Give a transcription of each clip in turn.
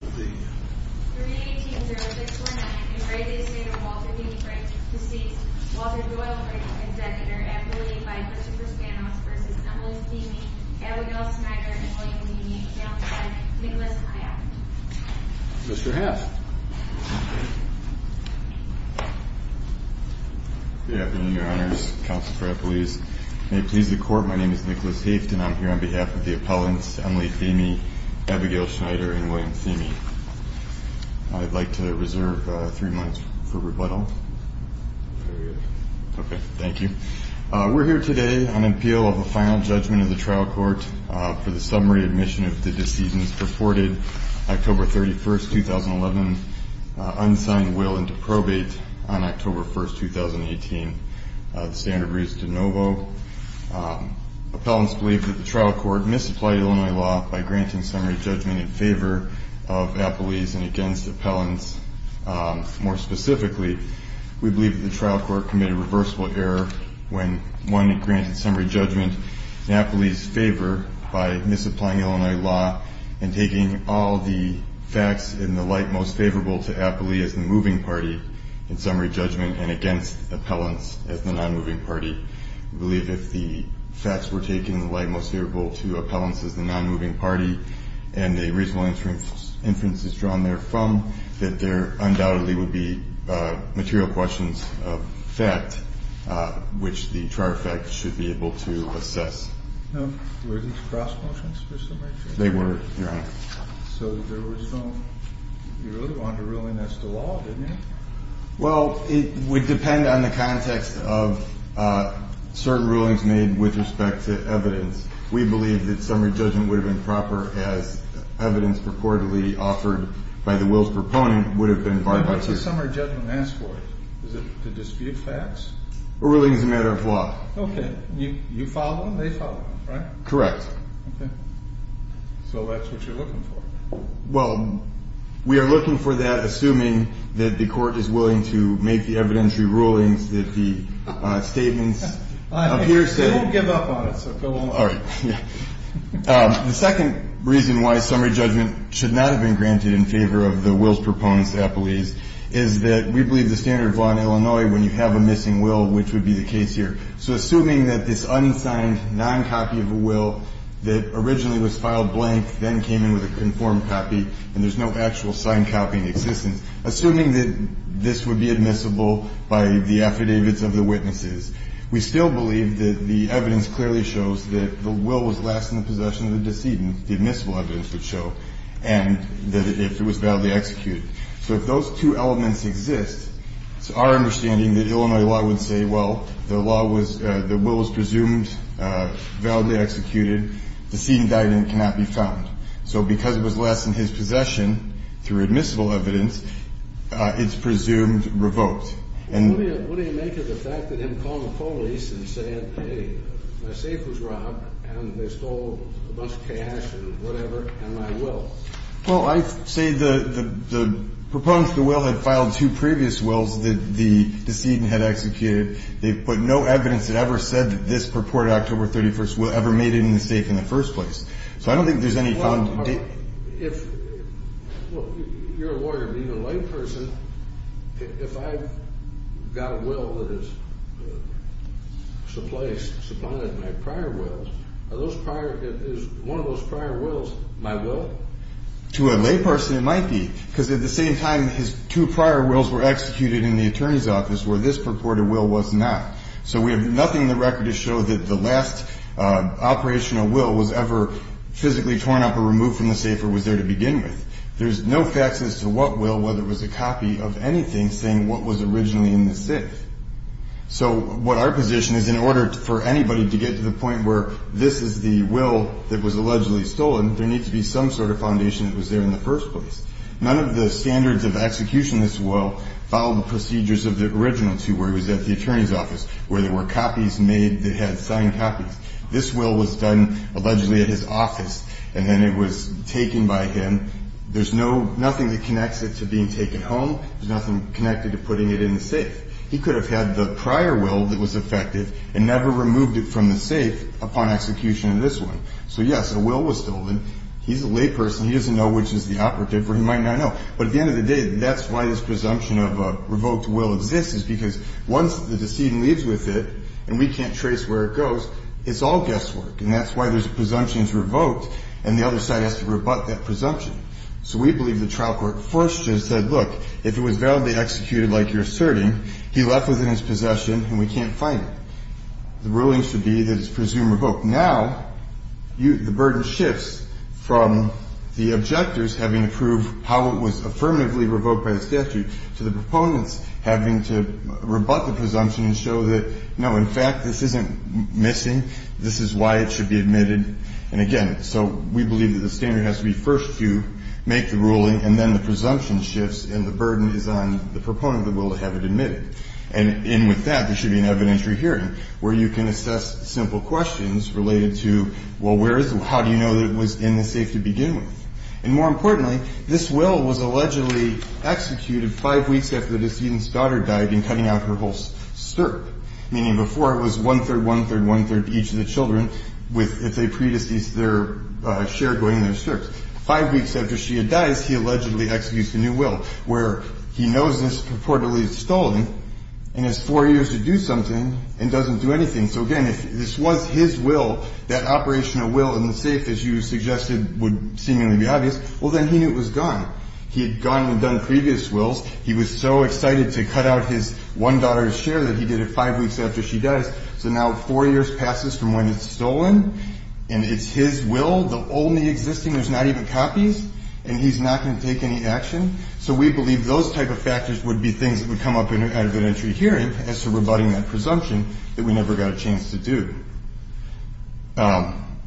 380649 in re Estate of Walter D. Frakes proceeds Walter Doyle Brady and Senator Emily Vickers for Spanoffs vs. Emily Thieme, Abigail Schneider, and William Thieme, counseled by Nicholas Haft. Mr. Haft. Good afternoon, Your Honors. Counsel for Appellees. May it please the Court, my name is Nicholas Haft and I'm here on behalf of the appellants Emily Thieme, Abigail Schneider, and William Thieme. I'd like to reserve three minutes for rebuttal. Okay, thank you. We're here today on appeal of a final judgment of the trial court for the summary admission of the decedents purported October 31st, 2011, unsigned will and to probate on October 1st, 2018. The standard reads de novo. Appellants believe that the trial court misapplied Illinois law by granting summary judgment in favor of appellees and against appellants. More specifically, we believe that the trial court committed a reversible error when one granted summary judgment in appellee's favor by misapplying Illinois law and taking all the facts in the light most favorable to appellee as the moving party in summary judgment and against appellants as the non-moving party. We believe if the facts were taken in the light most favorable to appellants as the non-moving party and a reasonable inference is drawn there from, that there undoubtedly would be material questions of fact which the trial effect should be able to assess. Were these cross motions for summary judgment? They were, Your Honor. So there was no, you really wanted to rule against the law, didn't you? Well, it would depend on the context of certain rulings made with respect to evidence. We believe that summary judgment would have been proper as evidence purportedly offered by the will's proponent would have been barred by the jury. And what does summary judgment ask for? Is it to dispute facts? A ruling is a matter of law. Okay. You follow them, they follow them, right? Correct. Okay. So that's what you're looking for. Well, we are looking for that assuming that the Court is willing to make the evidentiary rulings that the statements appear to be. I won't give up on it, so go on. All right. The second reason why summary judgment should not have been granted in favor of the will's proponent's appellees is that we believe the standard of law in Illinois when you have a missing will, which would be the case here. So assuming that this unsigned noncopy of a will that originally was filed blank then came in with a conformed copy and there's no actual signed copy in existence, assuming that this would be admissible by the affidavits of the witnesses, we still believe that the evidence clearly shows that the will was last in the possession of the decedent, the admissible evidence would show, and that it was validly executed. So if those two elements exist, it's our understanding that Illinois law would say, well, the will was presumed, validly executed, the decedent died and it cannot be found. So because it was last in his possession through admissible evidence, it's presumed revoked. What do you make of the fact that him calling the police and saying, hey, my safe was robbed and they stole a bunch of cash and whatever and my will? Well, I say the proponents of the will had filed two previous wills that the decedent had executed. They put no evidence that ever said that this purported October 31st will ever made any mistake in the first place. So I don't think there's any. If you're a lawyer, being a layperson, if I've got a will that is supplanted in my prior wills, are those prior, is one of those prior wills my will? To a layperson it might be, because at the same time, his two prior wills were executed in the attorney's office where this purported will was not. So we have nothing in the record to show that the last operational will was ever physically torn up or removed from the safe or was there to begin with. There's no facts as to what will, whether it was a copy of anything, saying what was originally in the safe. So what our position is, in order for anybody to get to the point where this is the will that was allegedly stolen, there needs to be some sort of foundation that was there in the first place. None of the standards of execution of this will follow the procedures of the original two where it was at the attorney's office, where there were copies made that had signed copies. This will was done allegedly at his office, and then it was taken by him. There's no, nothing that connects it to being taken home. There's nothing connected to putting it in the safe. He could have had the prior will that was affected and never removed it from the safe upon execution of this one. So, yes, a will was stolen. He's a layperson. He doesn't know which is the operative or he might not know. But at the end of the day, that's why this presumption of a revoked will exists is because once the decedent leaves with it and we can't trace where it goes, it's all guesswork. And that's why there's a presumption it's revoked and the other side has to rebut that presumption. So we believe the trial court first just said, look, if it was validly executed like you're asserting, he left with it in his possession and we can't find it. The ruling should be that it's presumed revoked. Now, the burden shifts from the objectors having to prove how it was affirmatively revoked by the statute to the proponents having to rebut the presumption and show that, no, in fact, this isn't missing. This is why it should be admitted. And, again, so we believe that the standard has to be first to make the ruling and then the presumption shifts and the burden is on the proponent of the will to have it admitted. And in with that, there should be an evidentiary hearing where you can assess simple questions related to, well, where is it? How do you know that it was in the safe to begin with? And more importantly, this will was allegedly executed five weeks after the decedent's daughter died in cutting out her whole stirrup, meaning before it was one-third, one-third, one-third to each of the children with the pre-deceased share going in their stirrups. Five weeks after she had died, he allegedly executes the new will where he knows this reportedly is stolen and has four years to do something and doesn't do anything. So, again, if this was his will, that operational will in the safe, as you suggested, would seemingly be obvious, well, then he knew it was gone. He had gone and done previous wills. He was so excited to cut out his one daughter's share that he did it five weeks after she died. So now four years passes from when it's stolen and it's his will, the only existing, there's not even copies, and he's not going to take any action. So we believe those type of factors would be things that would come up in an evidentiary hearing as to rebutting that presumption that we never got a chance to do.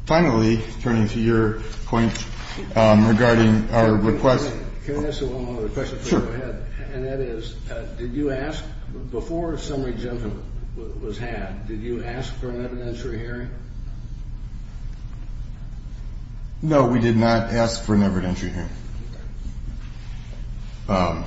Finally, turning to your point regarding our request. Can I ask one more question? Sure. And that is, did you ask, before summary exemption was had, did you ask for an evidentiary hearing? No, we did not ask for an evidentiary hearing. And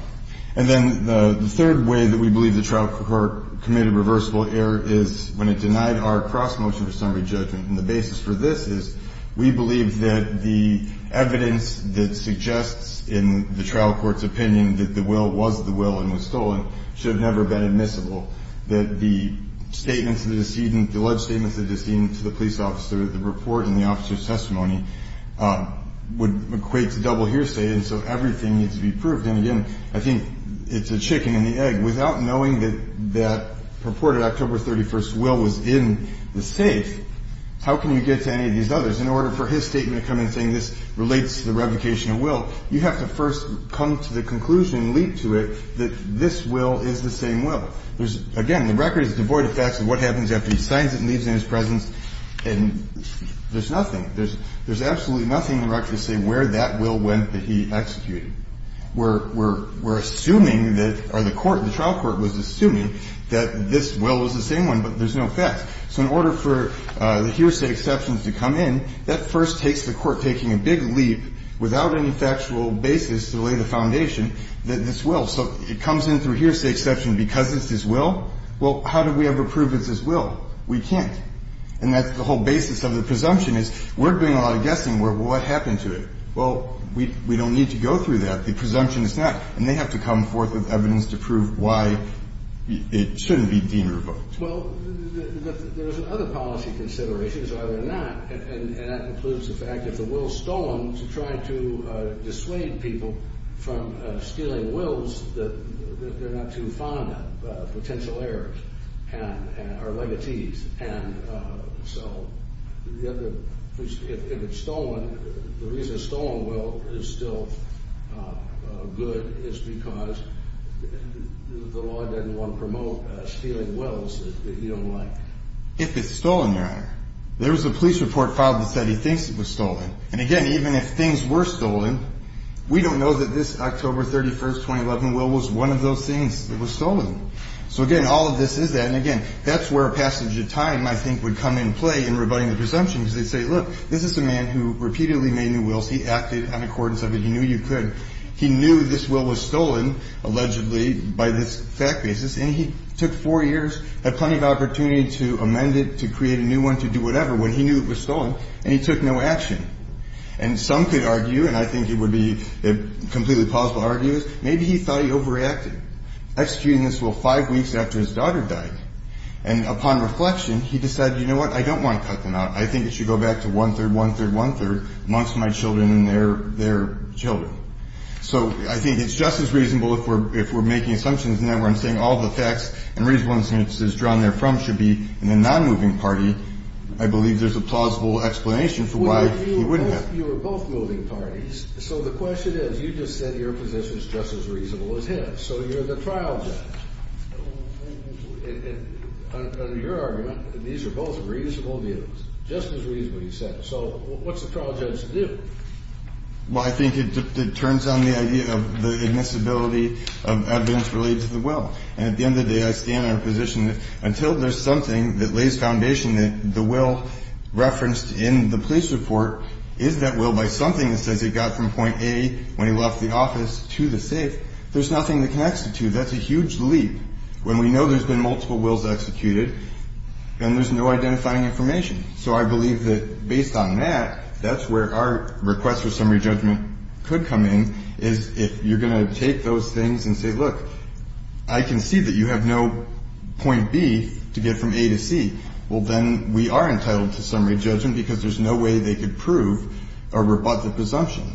then the third way that we believe the trial court committed reversible error is when it denied our cross-motion for summary judgment. And the basis for this is we believe that the evidence that suggests in the trial court's opinion that the will was the will and was stolen should have never been admissible, that the statements of the decedent, the alleged statements of the decedent to the police officer, the report and the officer's testimony would equate to double hearsay. And so everything needs to be proved. And, again, I think it's a chicken and the egg. Without knowing that that purported October 31st will was in the safe, how can you get to any of these others? In order for his statement to come in saying this relates to the revocation of will, you have to first come to the conclusion, leap to it, that this will is the same will. Again, the record is devoid of facts of what happens after he signs it and leaves it in his presence and there's nothing. There's absolutely nothing in the record to say where that will went that he executed. We're assuming that or the court, the trial court was assuming that this will was the same one, but there's no facts. So in order for the hearsay exceptions to come in, that first takes the court taking a big leap without any factual basis to lay the foundation that this will. So it comes in through hearsay exception because it's his will? Well, how do we ever prove it's his will? We can't. And that's the whole basis of the presumption is we're doing a lot of guessing. What happened to it? Well, we don't need to go through that. The presumption is not. And they have to come forth with evidence to prove why it shouldn't be deemed revoked. Well, there's other policy considerations, either or not, and that includes the fact that the will's stolen to try to dissuade people from stealing wills that they're not too fond of, potential heirs or legatees. And so if it's stolen, the reason a stolen will is still good is because the law doesn't want to promote stealing wills that you don't like. If it's stolen, Your Honor, there was a police report filed that said he thinks it was stolen. And, again, even if things were stolen, we don't know that this October 31, 2011, will was one of those things that was stolen. So, again, all of this is that. And, again, that's where passage of time, I think, would come in play in rebutting the presumption because they'd say, look, this is a man who repeatedly made new wills. He acted on accordance of it. He knew you could. He knew this will was stolen, allegedly, by this fact basis. And he took four years, had plenty of opportunity to amend it, to create a new one, to do whatever when he knew it was stolen, and he took no action. And some could argue, and I think it would be a completely plausible argument, is maybe he thought he overreacted, executing this will five weeks after his daughter died. And, upon reflection, he decided, you know what, I don't want to cut the knot. I think it should go back to one-third, one-third, one-third, amongst my children and their children. So I think it's just as reasonable if we're making assumptions now where I'm saying all the facts and reasonable assumptions drawn therefrom should be in a non-moving party, I believe there's a plausible explanation for why he wouldn't have. You were both moving parties. So the question is, you just said your position is just as reasonable as his. So you're the trial judge. Under your argument, these are both reasonable views, just as reasonable, you said. So what's the trial judge to do? Well, I think it turns on the idea of the admissibility of evidence related to the will. And at the end of the day, I stand on a position that until there's something that lays foundation that the will referenced in the police report is that will by something that says it got from point A when he left the office to the safe, there's nothing that connects the two. That's a huge leap. When we know there's been multiple wills executed and there's no identifying information. So I believe that based on that, that's where our request for summary judgment could come in, is if you're going to take those things and say, look, I can see that you have no point B to get from A to C. Well, then we are entitled to summary judgment because there's no way they could prove a rebutted presumption.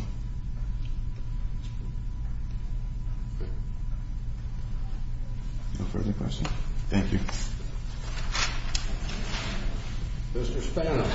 No further questions? Thank you. Mr. Spano. Thank you, Your Honor.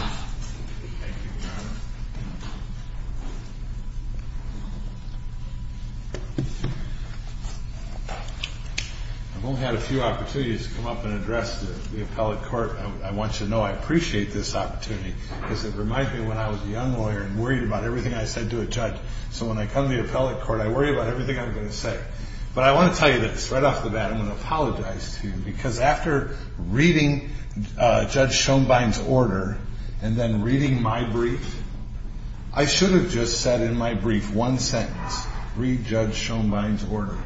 I've only had a few opportunities to come up and address the appellate court. I want you to know I appreciate this opportunity because it reminds me of when I was a young lawyer and worried about everything I said to a judge. So when I come to the appellate court, I worry about everything I'm going to say. But I want to tell you this, right off the bat, I'm going to apologize to you because after reading Judge Schoenbein's order and then reading my brief, I should have just said in my brief one sentence, read Judge Schoenbein's order.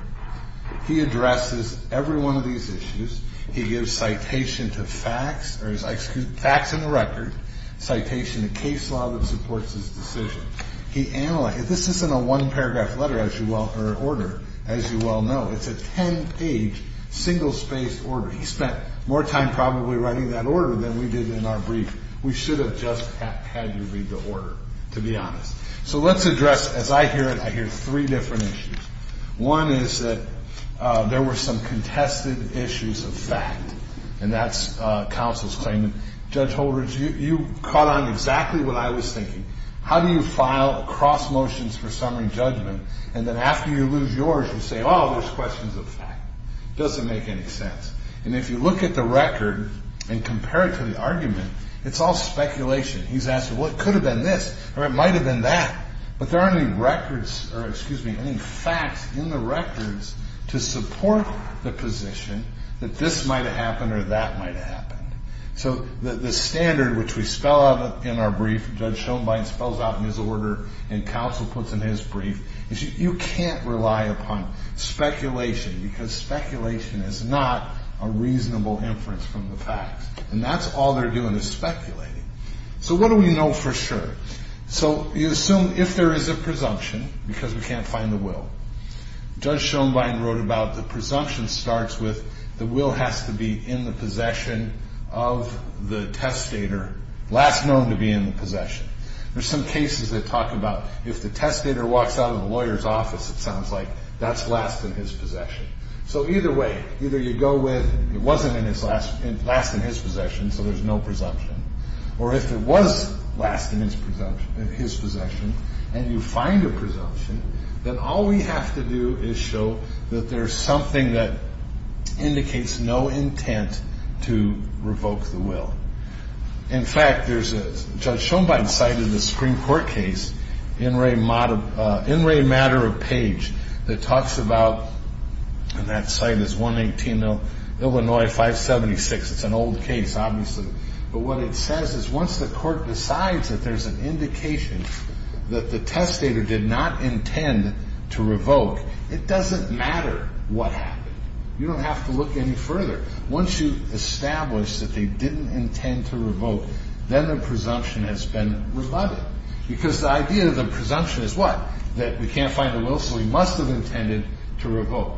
He addresses every one of these issues. He gives citation to facts or facts in the record, citation to case law that supports his decision. This isn't a one-paragraph order, as you well know. It's a ten-page, single-spaced order. He spent more time probably writing that order than we did in our brief. We should have just had you read the order, to be honest. So let's address, as I hear it, I hear three different issues. One is that there were some contested issues of fact, and that's counsel's claimant. Judge Holdridge, you caught on exactly what I was thinking. How do you file a cross motions for summary judgment, and then after you lose yours, you say, oh, there's questions of fact? It doesn't make any sense. And if you look at the record and compare it to the argument, it's all speculation. He's asking, well, it could have been this or it might have been that, but there aren't any records or, excuse me, any facts in the records to support the position that this might have happened or that might have happened. So the standard which we spell out in our brief, Judge Schoenbein spells out in his order and counsel puts in his brief, is you can't rely upon speculation because speculation is not a reasonable inference from the facts, and that's all they're doing is speculating. So what do we know for sure? So you assume if there is a presumption because we can't find the will. Judge Schoenbein wrote about the presumption starts with the will has to be in the possession of the testator, last known to be in the possession. There's some cases that talk about if the testator walks out of the lawyer's office, it sounds like that's last in his possession. So either way, either you go with it wasn't last in his possession, so there's no presumption, or if it was last in his possession and you find a presumption, then all we have to do is show that there's something that indicates no intent to revoke the will. In fact, there's a Judge Schoenbein site in the Supreme Court case, In Re Matter of Page, that talks about, and that site is 1180 Illinois 576. It's an old case, obviously, but what it says is once the court decides that there's an indication that the testator did not intend to revoke, it doesn't matter what happened. You don't have to look any further. Once you establish that they didn't intend to revoke, then the presumption has been rebutted because the idea of the presumption is what? That we can't find the will, so he must have intended to revoke.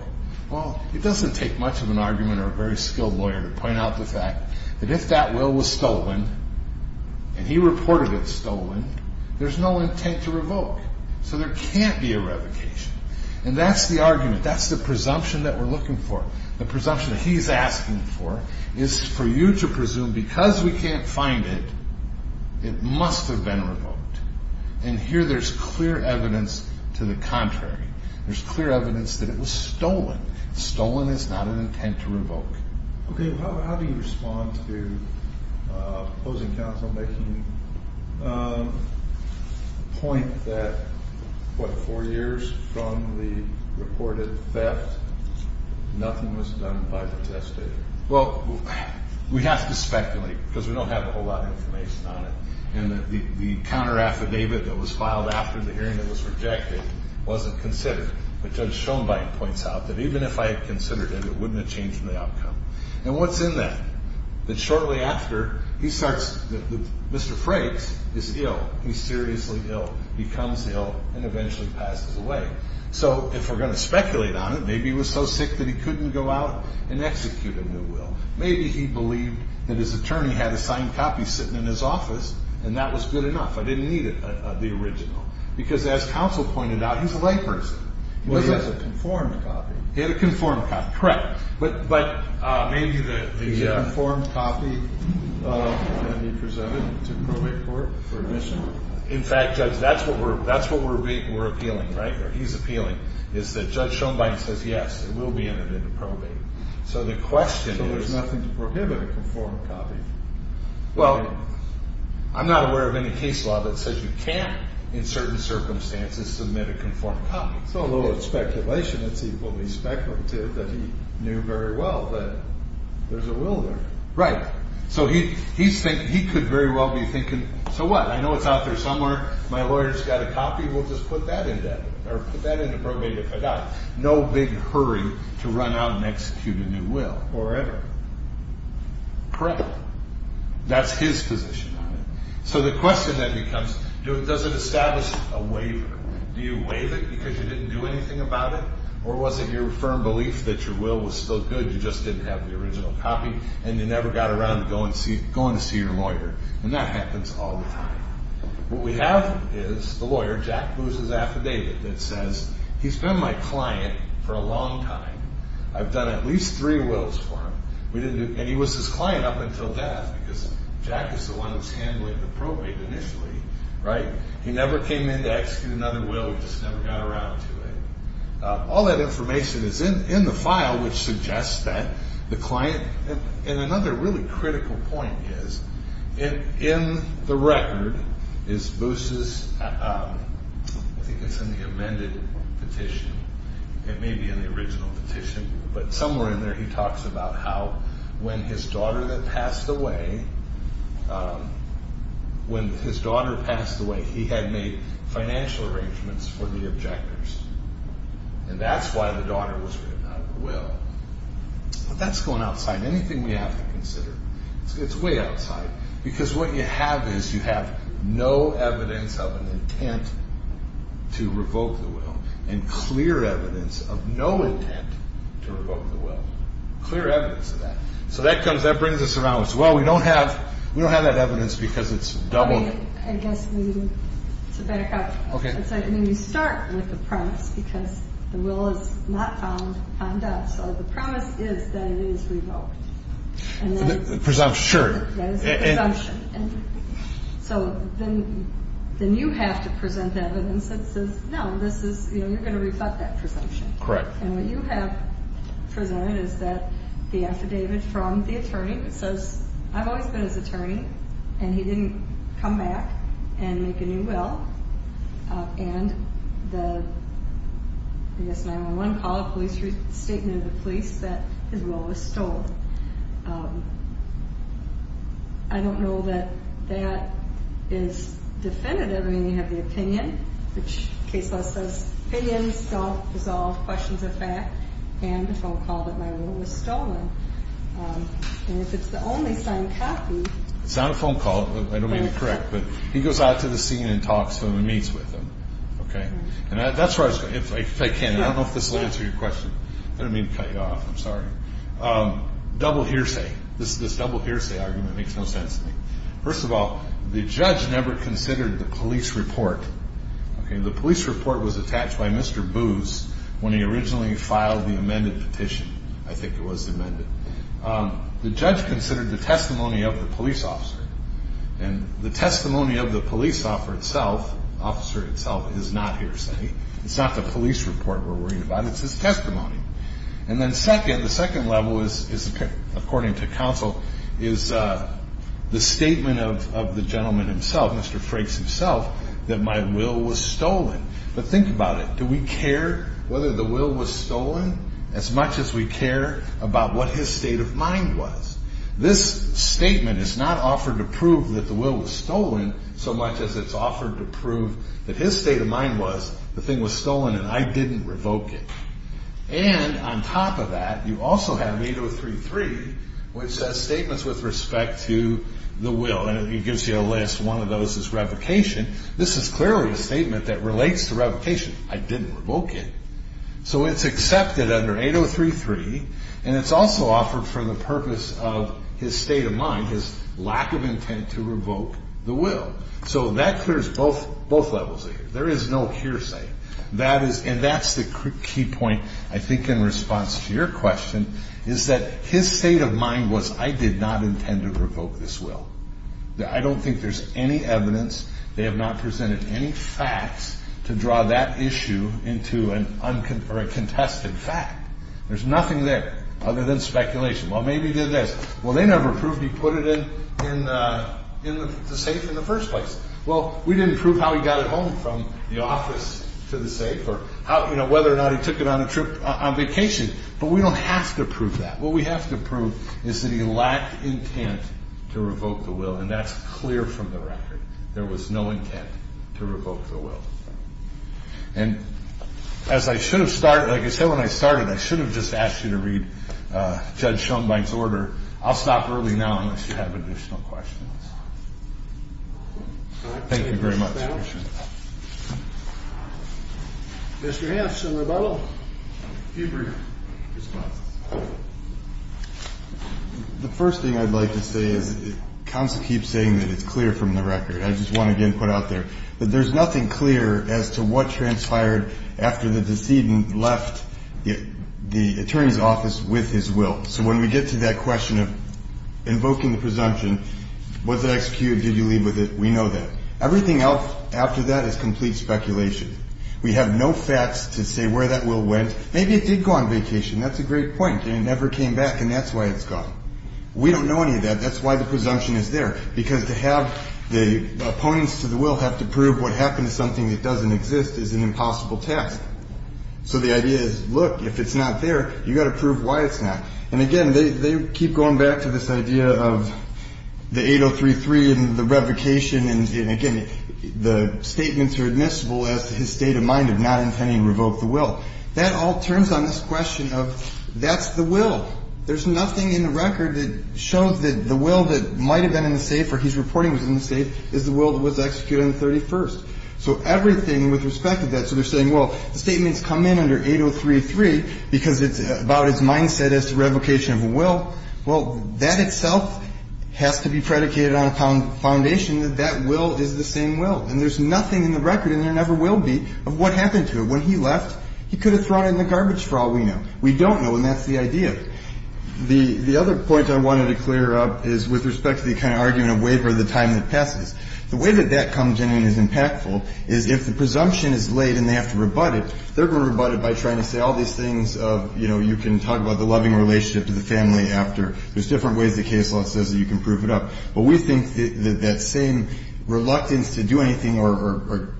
Well, it doesn't take much of an argument or a very skilled lawyer to point out the fact that if that will was stolen and he reported it stolen, there's no intent to revoke, so there can't be a revocation. And that's the argument. That's the presumption that we're looking for, the presumption that he's asking for is for you to presume because we can't find it, it must have been revoked. And here there's clear evidence to the contrary. There's clear evidence that it was stolen. Stolen is not an intent to revoke. Okay, how do you respond to opposing counsel making the point that, what, four years from the reported theft, nothing was done by the testator? Well, we have to speculate because we don't have a whole lot of information on it, and the counteraffidavit that was filed after the hearing that was rejected wasn't considered. But Judge Schoenbein points out that even if I had considered it, it wouldn't have changed the outcome. And what's in that? That shortly after, he starts, Mr. Frakes is ill, he's seriously ill, he comes ill and eventually passes away. So if we're going to speculate on it, maybe he was so sick that he couldn't go out and execute a new will. Maybe he believed that his attorney had a signed copy sitting in his office and that was good enough, I didn't need the original. Because as counsel pointed out, he's a layperson. He has a conformed copy. He had a conformed copy. Correct. But maybe the conformed copy can be presented to probate court for admission. In fact, Judge, that's what we're appealing right there. He's appealing is that Judge Schoenbein says, yes, it will be entered into probate. So the question is. So there's nothing to prohibit a conformed copy. Well, I'm not aware of any case law that says you can't, in certain circumstances, submit a conformed copy. So a little bit of speculation. It's equally speculative that he knew very well that there's a will there. Right. So he could very well be thinking, so what? I know it's out there somewhere. My lawyer's got a copy. We'll just put that in there. Or put that into probate if I got it. No big hurry to run out and execute a new will or whatever. Correct. That's his position on it. So the question then becomes, does it establish a waiver? Do you waive it because you didn't do anything about it? Or was it your firm belief that your will was still good, you just didn't have the original copy, and you never got around to going to see your lawyer? And that happens all the time. What we have is the lawyer, Jack Booz's affidavit, that says he's been my client for a long time. I've done at least three wills for him. And he was his client up until death, because Jack is the one who's handling the probate initially. Right. He never came in to execute another will. He just never got around to it. All that information is in the file, which suggests that the client – in the record is Booz's – I think it's in the amended petition. It may be in the original petition. But somewhere in there he talks about how when his daughter passed away, he had made financial arrangements for the objectors. And that's why the daughter was written out of the will. But that's going outside anything we have to consider. It's way outside. Because what you have is you have no evidence of an intent to revoke the will, and clear evidence of no intent to revoke the will. Clear evidence of that. So that brings us around to, well, we don't have that evidence because it's doubled. I guess to back up, you start with the promise, because the will is not found on death. So the promise is that it is revoked. Presumption, sure. That is a presumption. So then you have to present evidence that says, no, this is – you're going to rebut that presumption. Correct. And what you have presented is that the affidavit from the attorney says, I've always been his attorney, and he didn't come back and make a new will. And the 911 call, a police statement to the police that his will was stolen. I don't know that that is definitive. I mean, you have the opinion, which case law says opinions don't resolve questions of fact, and the phone call that my will was stolen. And if it's the only signed copy – It's not a phone call. I don't mean to correct. But he goes out to the scene and talks to them and meets with them. Okay? And that's where I was going. If I can, I don't know if this will answer your question. I don't mean to cut you off. I'm sorry. Double hearsay. This double hearsay argument makes no sense to me. First of all, the judge never considered the police report. Okay? The police report was attached by Mr. Boos when he originally filed the amended petition. I think it was amended. The judge considered the testimony of the police officer. And the testimony of the police officer itself is not hearsay. It's not the police report we're worried about. It's his testimony. And then second, the second level is, according to counsel, is the statement of the gentleman himself, Mr. Frakes himself, that my will was stolen. But think about it. Do we care whether the will was stolen as much as we care about what his state of mind was? This statement is not offered to prove that the will was stolen so much as it's offered to prove that his state of mind was the thing was stolen and I didn't revoke it. And on top of that, you also have 8033, which says statements with respect to the will. And it gives you a list. One of those is revocation. This is clearly a statement that relates to revocation. I didn't revoke it. So it's accepted under 8033. And it's also offered for the purpose of his state of mind, his lack of intent to revoke the will. So that clears both levels of it. There is no hearsay. And that's the key point, I think, in response to your question, is that his state of mind was I did not intend to revoke this will. I don't think there's any evidence. They have not presented any facts to draw that issue into a contested fact. There's nothing there other than speculation. Well, maybe he did this. Well, they never proved he put it in the safe in the first place. Well, we didn't prove how he got it home from the office to the safe or whether or not he took it on a trip on vacation. But we don't have to prove that. What we have to prove is that he lacked intent to revoke the will, and that's clear from the record. There was no intent to revoke the will. And as I should have started, like I said when I started, I should have just asked you to read Judge Schoenbein's order. I'll stop early now unless you have additional questions. Thank you very much. Mr. Hanson, rebuttal. A few brief responses. The first thing I'd like to say is counsel keeps saying that it's clear from the record. I just want to get input out there. But there's nothing clear as to what transpired after the decedent left the attorney's office with his will. So when we get to that question of invoking the presumption, was it executed, did you leave with it, we know that. Everything else after that is complete speculation. We have no facts to say where that will went. Maybe it did go on vacation. That's a great point. It never came back, and that's why it's gone. We don't know any of that. That's why the presumption is there. Because to have the opponents to the will have to prove what happened to something that doesn't exist is an impossible task. So the idea is, look, if it's not there, you've got to prove why it's not. And, again, they keep going back to this idea of the 8033 and the revocation. And, again, the statements are admissible as his state of mind of not intending to revoke the will. That all turns on this question of that's the will. There's nothing in the record that shows that the will that might have been in the safe or he's reporting was in the safe is the will that was executed on the 31st. So everything with respect to that, so they're saying, well, the statements come in under 8033 because it's about his mindset as to revocation of a will. Well, that itself has to be predicated on a foundation that that will is the same will. And there's nothing in the record, and there never will be, of what happened to it. When he left, he could have thrown it in the garbage trawl, we know. We don't know, and that's the idea. The other point I wanted to clear up is with respect to the kind of argument of waiver of the time that passes. The way that that comes in and is impactful is if the presumption is laid and they have to rebut it, they're going to rebut it by trying to say all these things of, you know, you can talk about the loving relationship to the family after. There's different ways the case law says that you can prove it up. But we think that that same reluctance to do anything or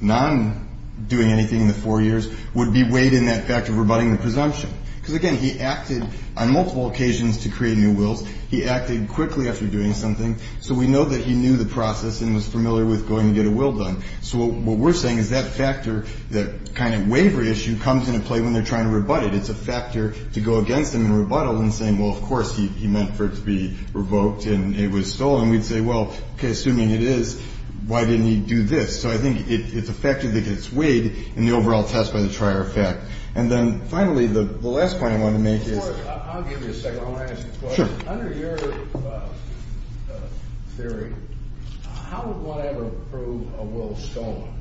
non-doing anything in the four years would be weighed in that fact of rebutting the presumption. Because, again, he acted on multiple occasions to create new wills. He acted quickly after doing something, so we know that he knew the process and was familiar with going to get a will done. So what we're saying is that factor, that kind of waiver issue, comes into play when they're trying to rebut it. It's a factor to go against them and rebuttal and saying, well, of course, he meant for it to be revoked and it was stolen. We'd say, well, okay, assuming it is, why didn't he do this? So I think it's a factor that gets weighed in the overall test by the trier effect. And then, finally, the last point I want to make is. I'll give you a second. I want to ask you a question. Sure. Under your theory, how would one ever prove a will stolen?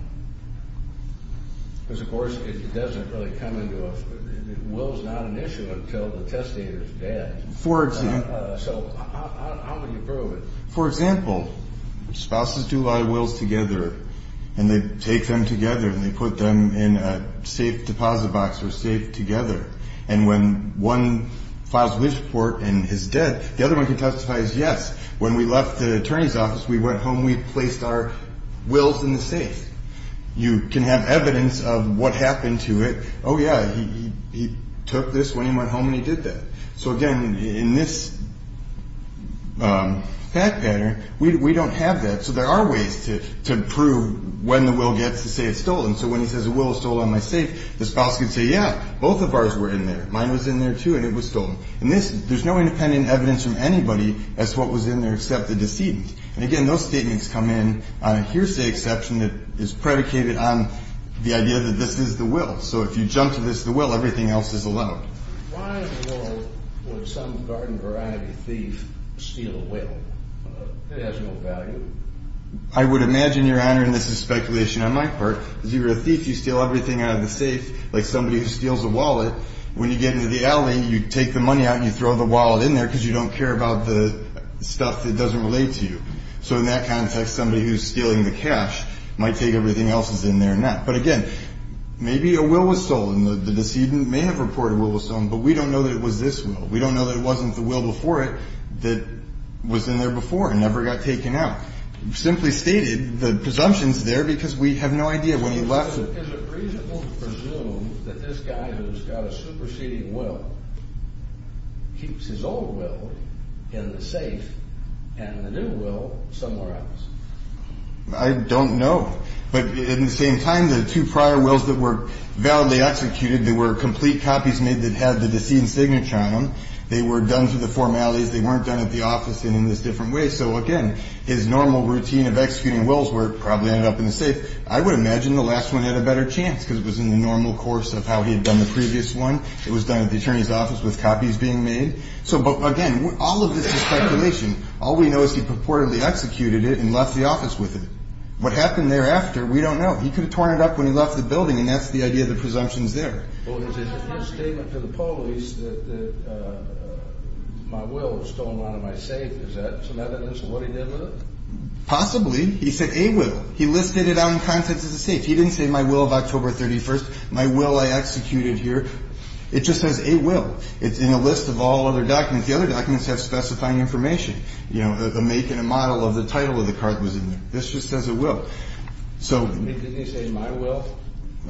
Because, of course, it doesn't really come into us. A will is not an issue until the testator is dead. For example. So how would you prove it? For example, spouses do a lot of wills together. And they take them together and they put them in a safe deposit box or safe together. And when one files a will report and is dead, the other one can testify as yes. When we left the attorney's office, we went home, we placed our wills in the safe. You can have evidence of what happened to it. Oh, yeah, he took this when he went home and he did that. So, again, in this fact pattern, we don't have that. So there are ways to prove when the will gets to say it's stolen. So when he says a will is stolen in my safe, the spouse can say, yeah, both of ours were in there. Mine was in there, too, and it was stolen. And there's no independent evidence from anybody as to what was in there except the decedent. And, again, those statements come in on a hearsay exception that is predicated on the idea that this is the will. So if you jump to this, the will, everything else is allowed. Why in the world would some garden variety thief steal a will that has no value? I would imagine, Your Honor, and this is speculation on my part, if you're a thief, you steal everything out of the safe, like somebody who steals a wallet. When you get into the alley, you take the money out and you throw the wallet in there because you don't care about the stuff that doesn't relate to you. So in that context, somebody who's stealing the cash might take everything else that's in there and not. But, again, maybe a will was stolen. The decedent may have reported a will was stolen, but we don't know that it was this will. We don't know that it wasn't the will before it that was in there before and never got taken out. Simply stated, the presumption's there because we have no idea when he left. So is it reasonable to presume that this guy who's got a superseding will keeps his old will in the safe and the new will somewhere else? I don't know. But at the same time, the two prior wills that were validly executed, they were complete copies made that had the decedent's signature on them. They were done through the formalities. They weren't done at the office and in this different way. So, again, his normal routine of executing wills probably ended up in the safe. I would imagine the last one had a better chance because it was in the normal course of how he had done the previous one. It was done at the attorney's office with copies being made. So, again, all of this is speculation. All we know is he purportedly executed it and left the office with it. What happened thereafter, we don't know. He could have torn it up when he left the building, and that's the idea of the presumption's there. Well, there's a statement to the police that my will was stolen out of my safe. Is that some evidence of what he did with it? Possibly. He said a will. He listed it on the contents of the safe. He didn't say my will of October 31st, my will I executed here. It just says a will. It's in a list of all other documents. The other documents have specifying information. You know, a make and a model of the title of the card was in there. This just says a will. So. Didn't he say my will?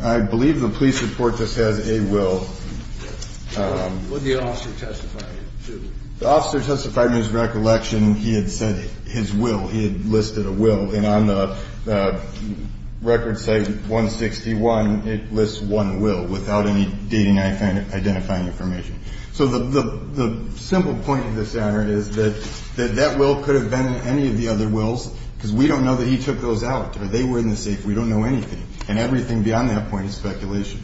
I believe the police report just says a will. What did the officer testify to? The officer testified in his recollection he had said his will. He had listed a will. And on the record say 161, it lists one will without any dating identifying information. So the simple point of this matter is that that will could have been any of the other wills, because we don't know that he took those out or they were in the safe. We don't know anything. And everything beyond that point is speculation.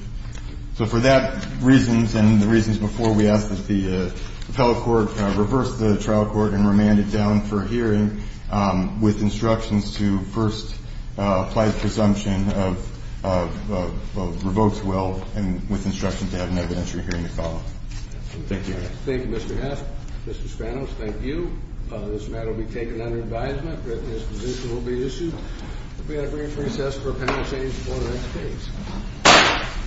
So for that reasons and the reasons before, we ask that the appellate court reverse the trial court and remand it down for hearing with instructions to first apply the presumption of revoked will and with instructions to have an evidentiary hearing to follow. Thank you. Thank you, Mr. Heff. Mr. Spanos, thank you. This matter will be taken under advisement. Britain's position will be issued. We have a brief recess for appellate change before the next case.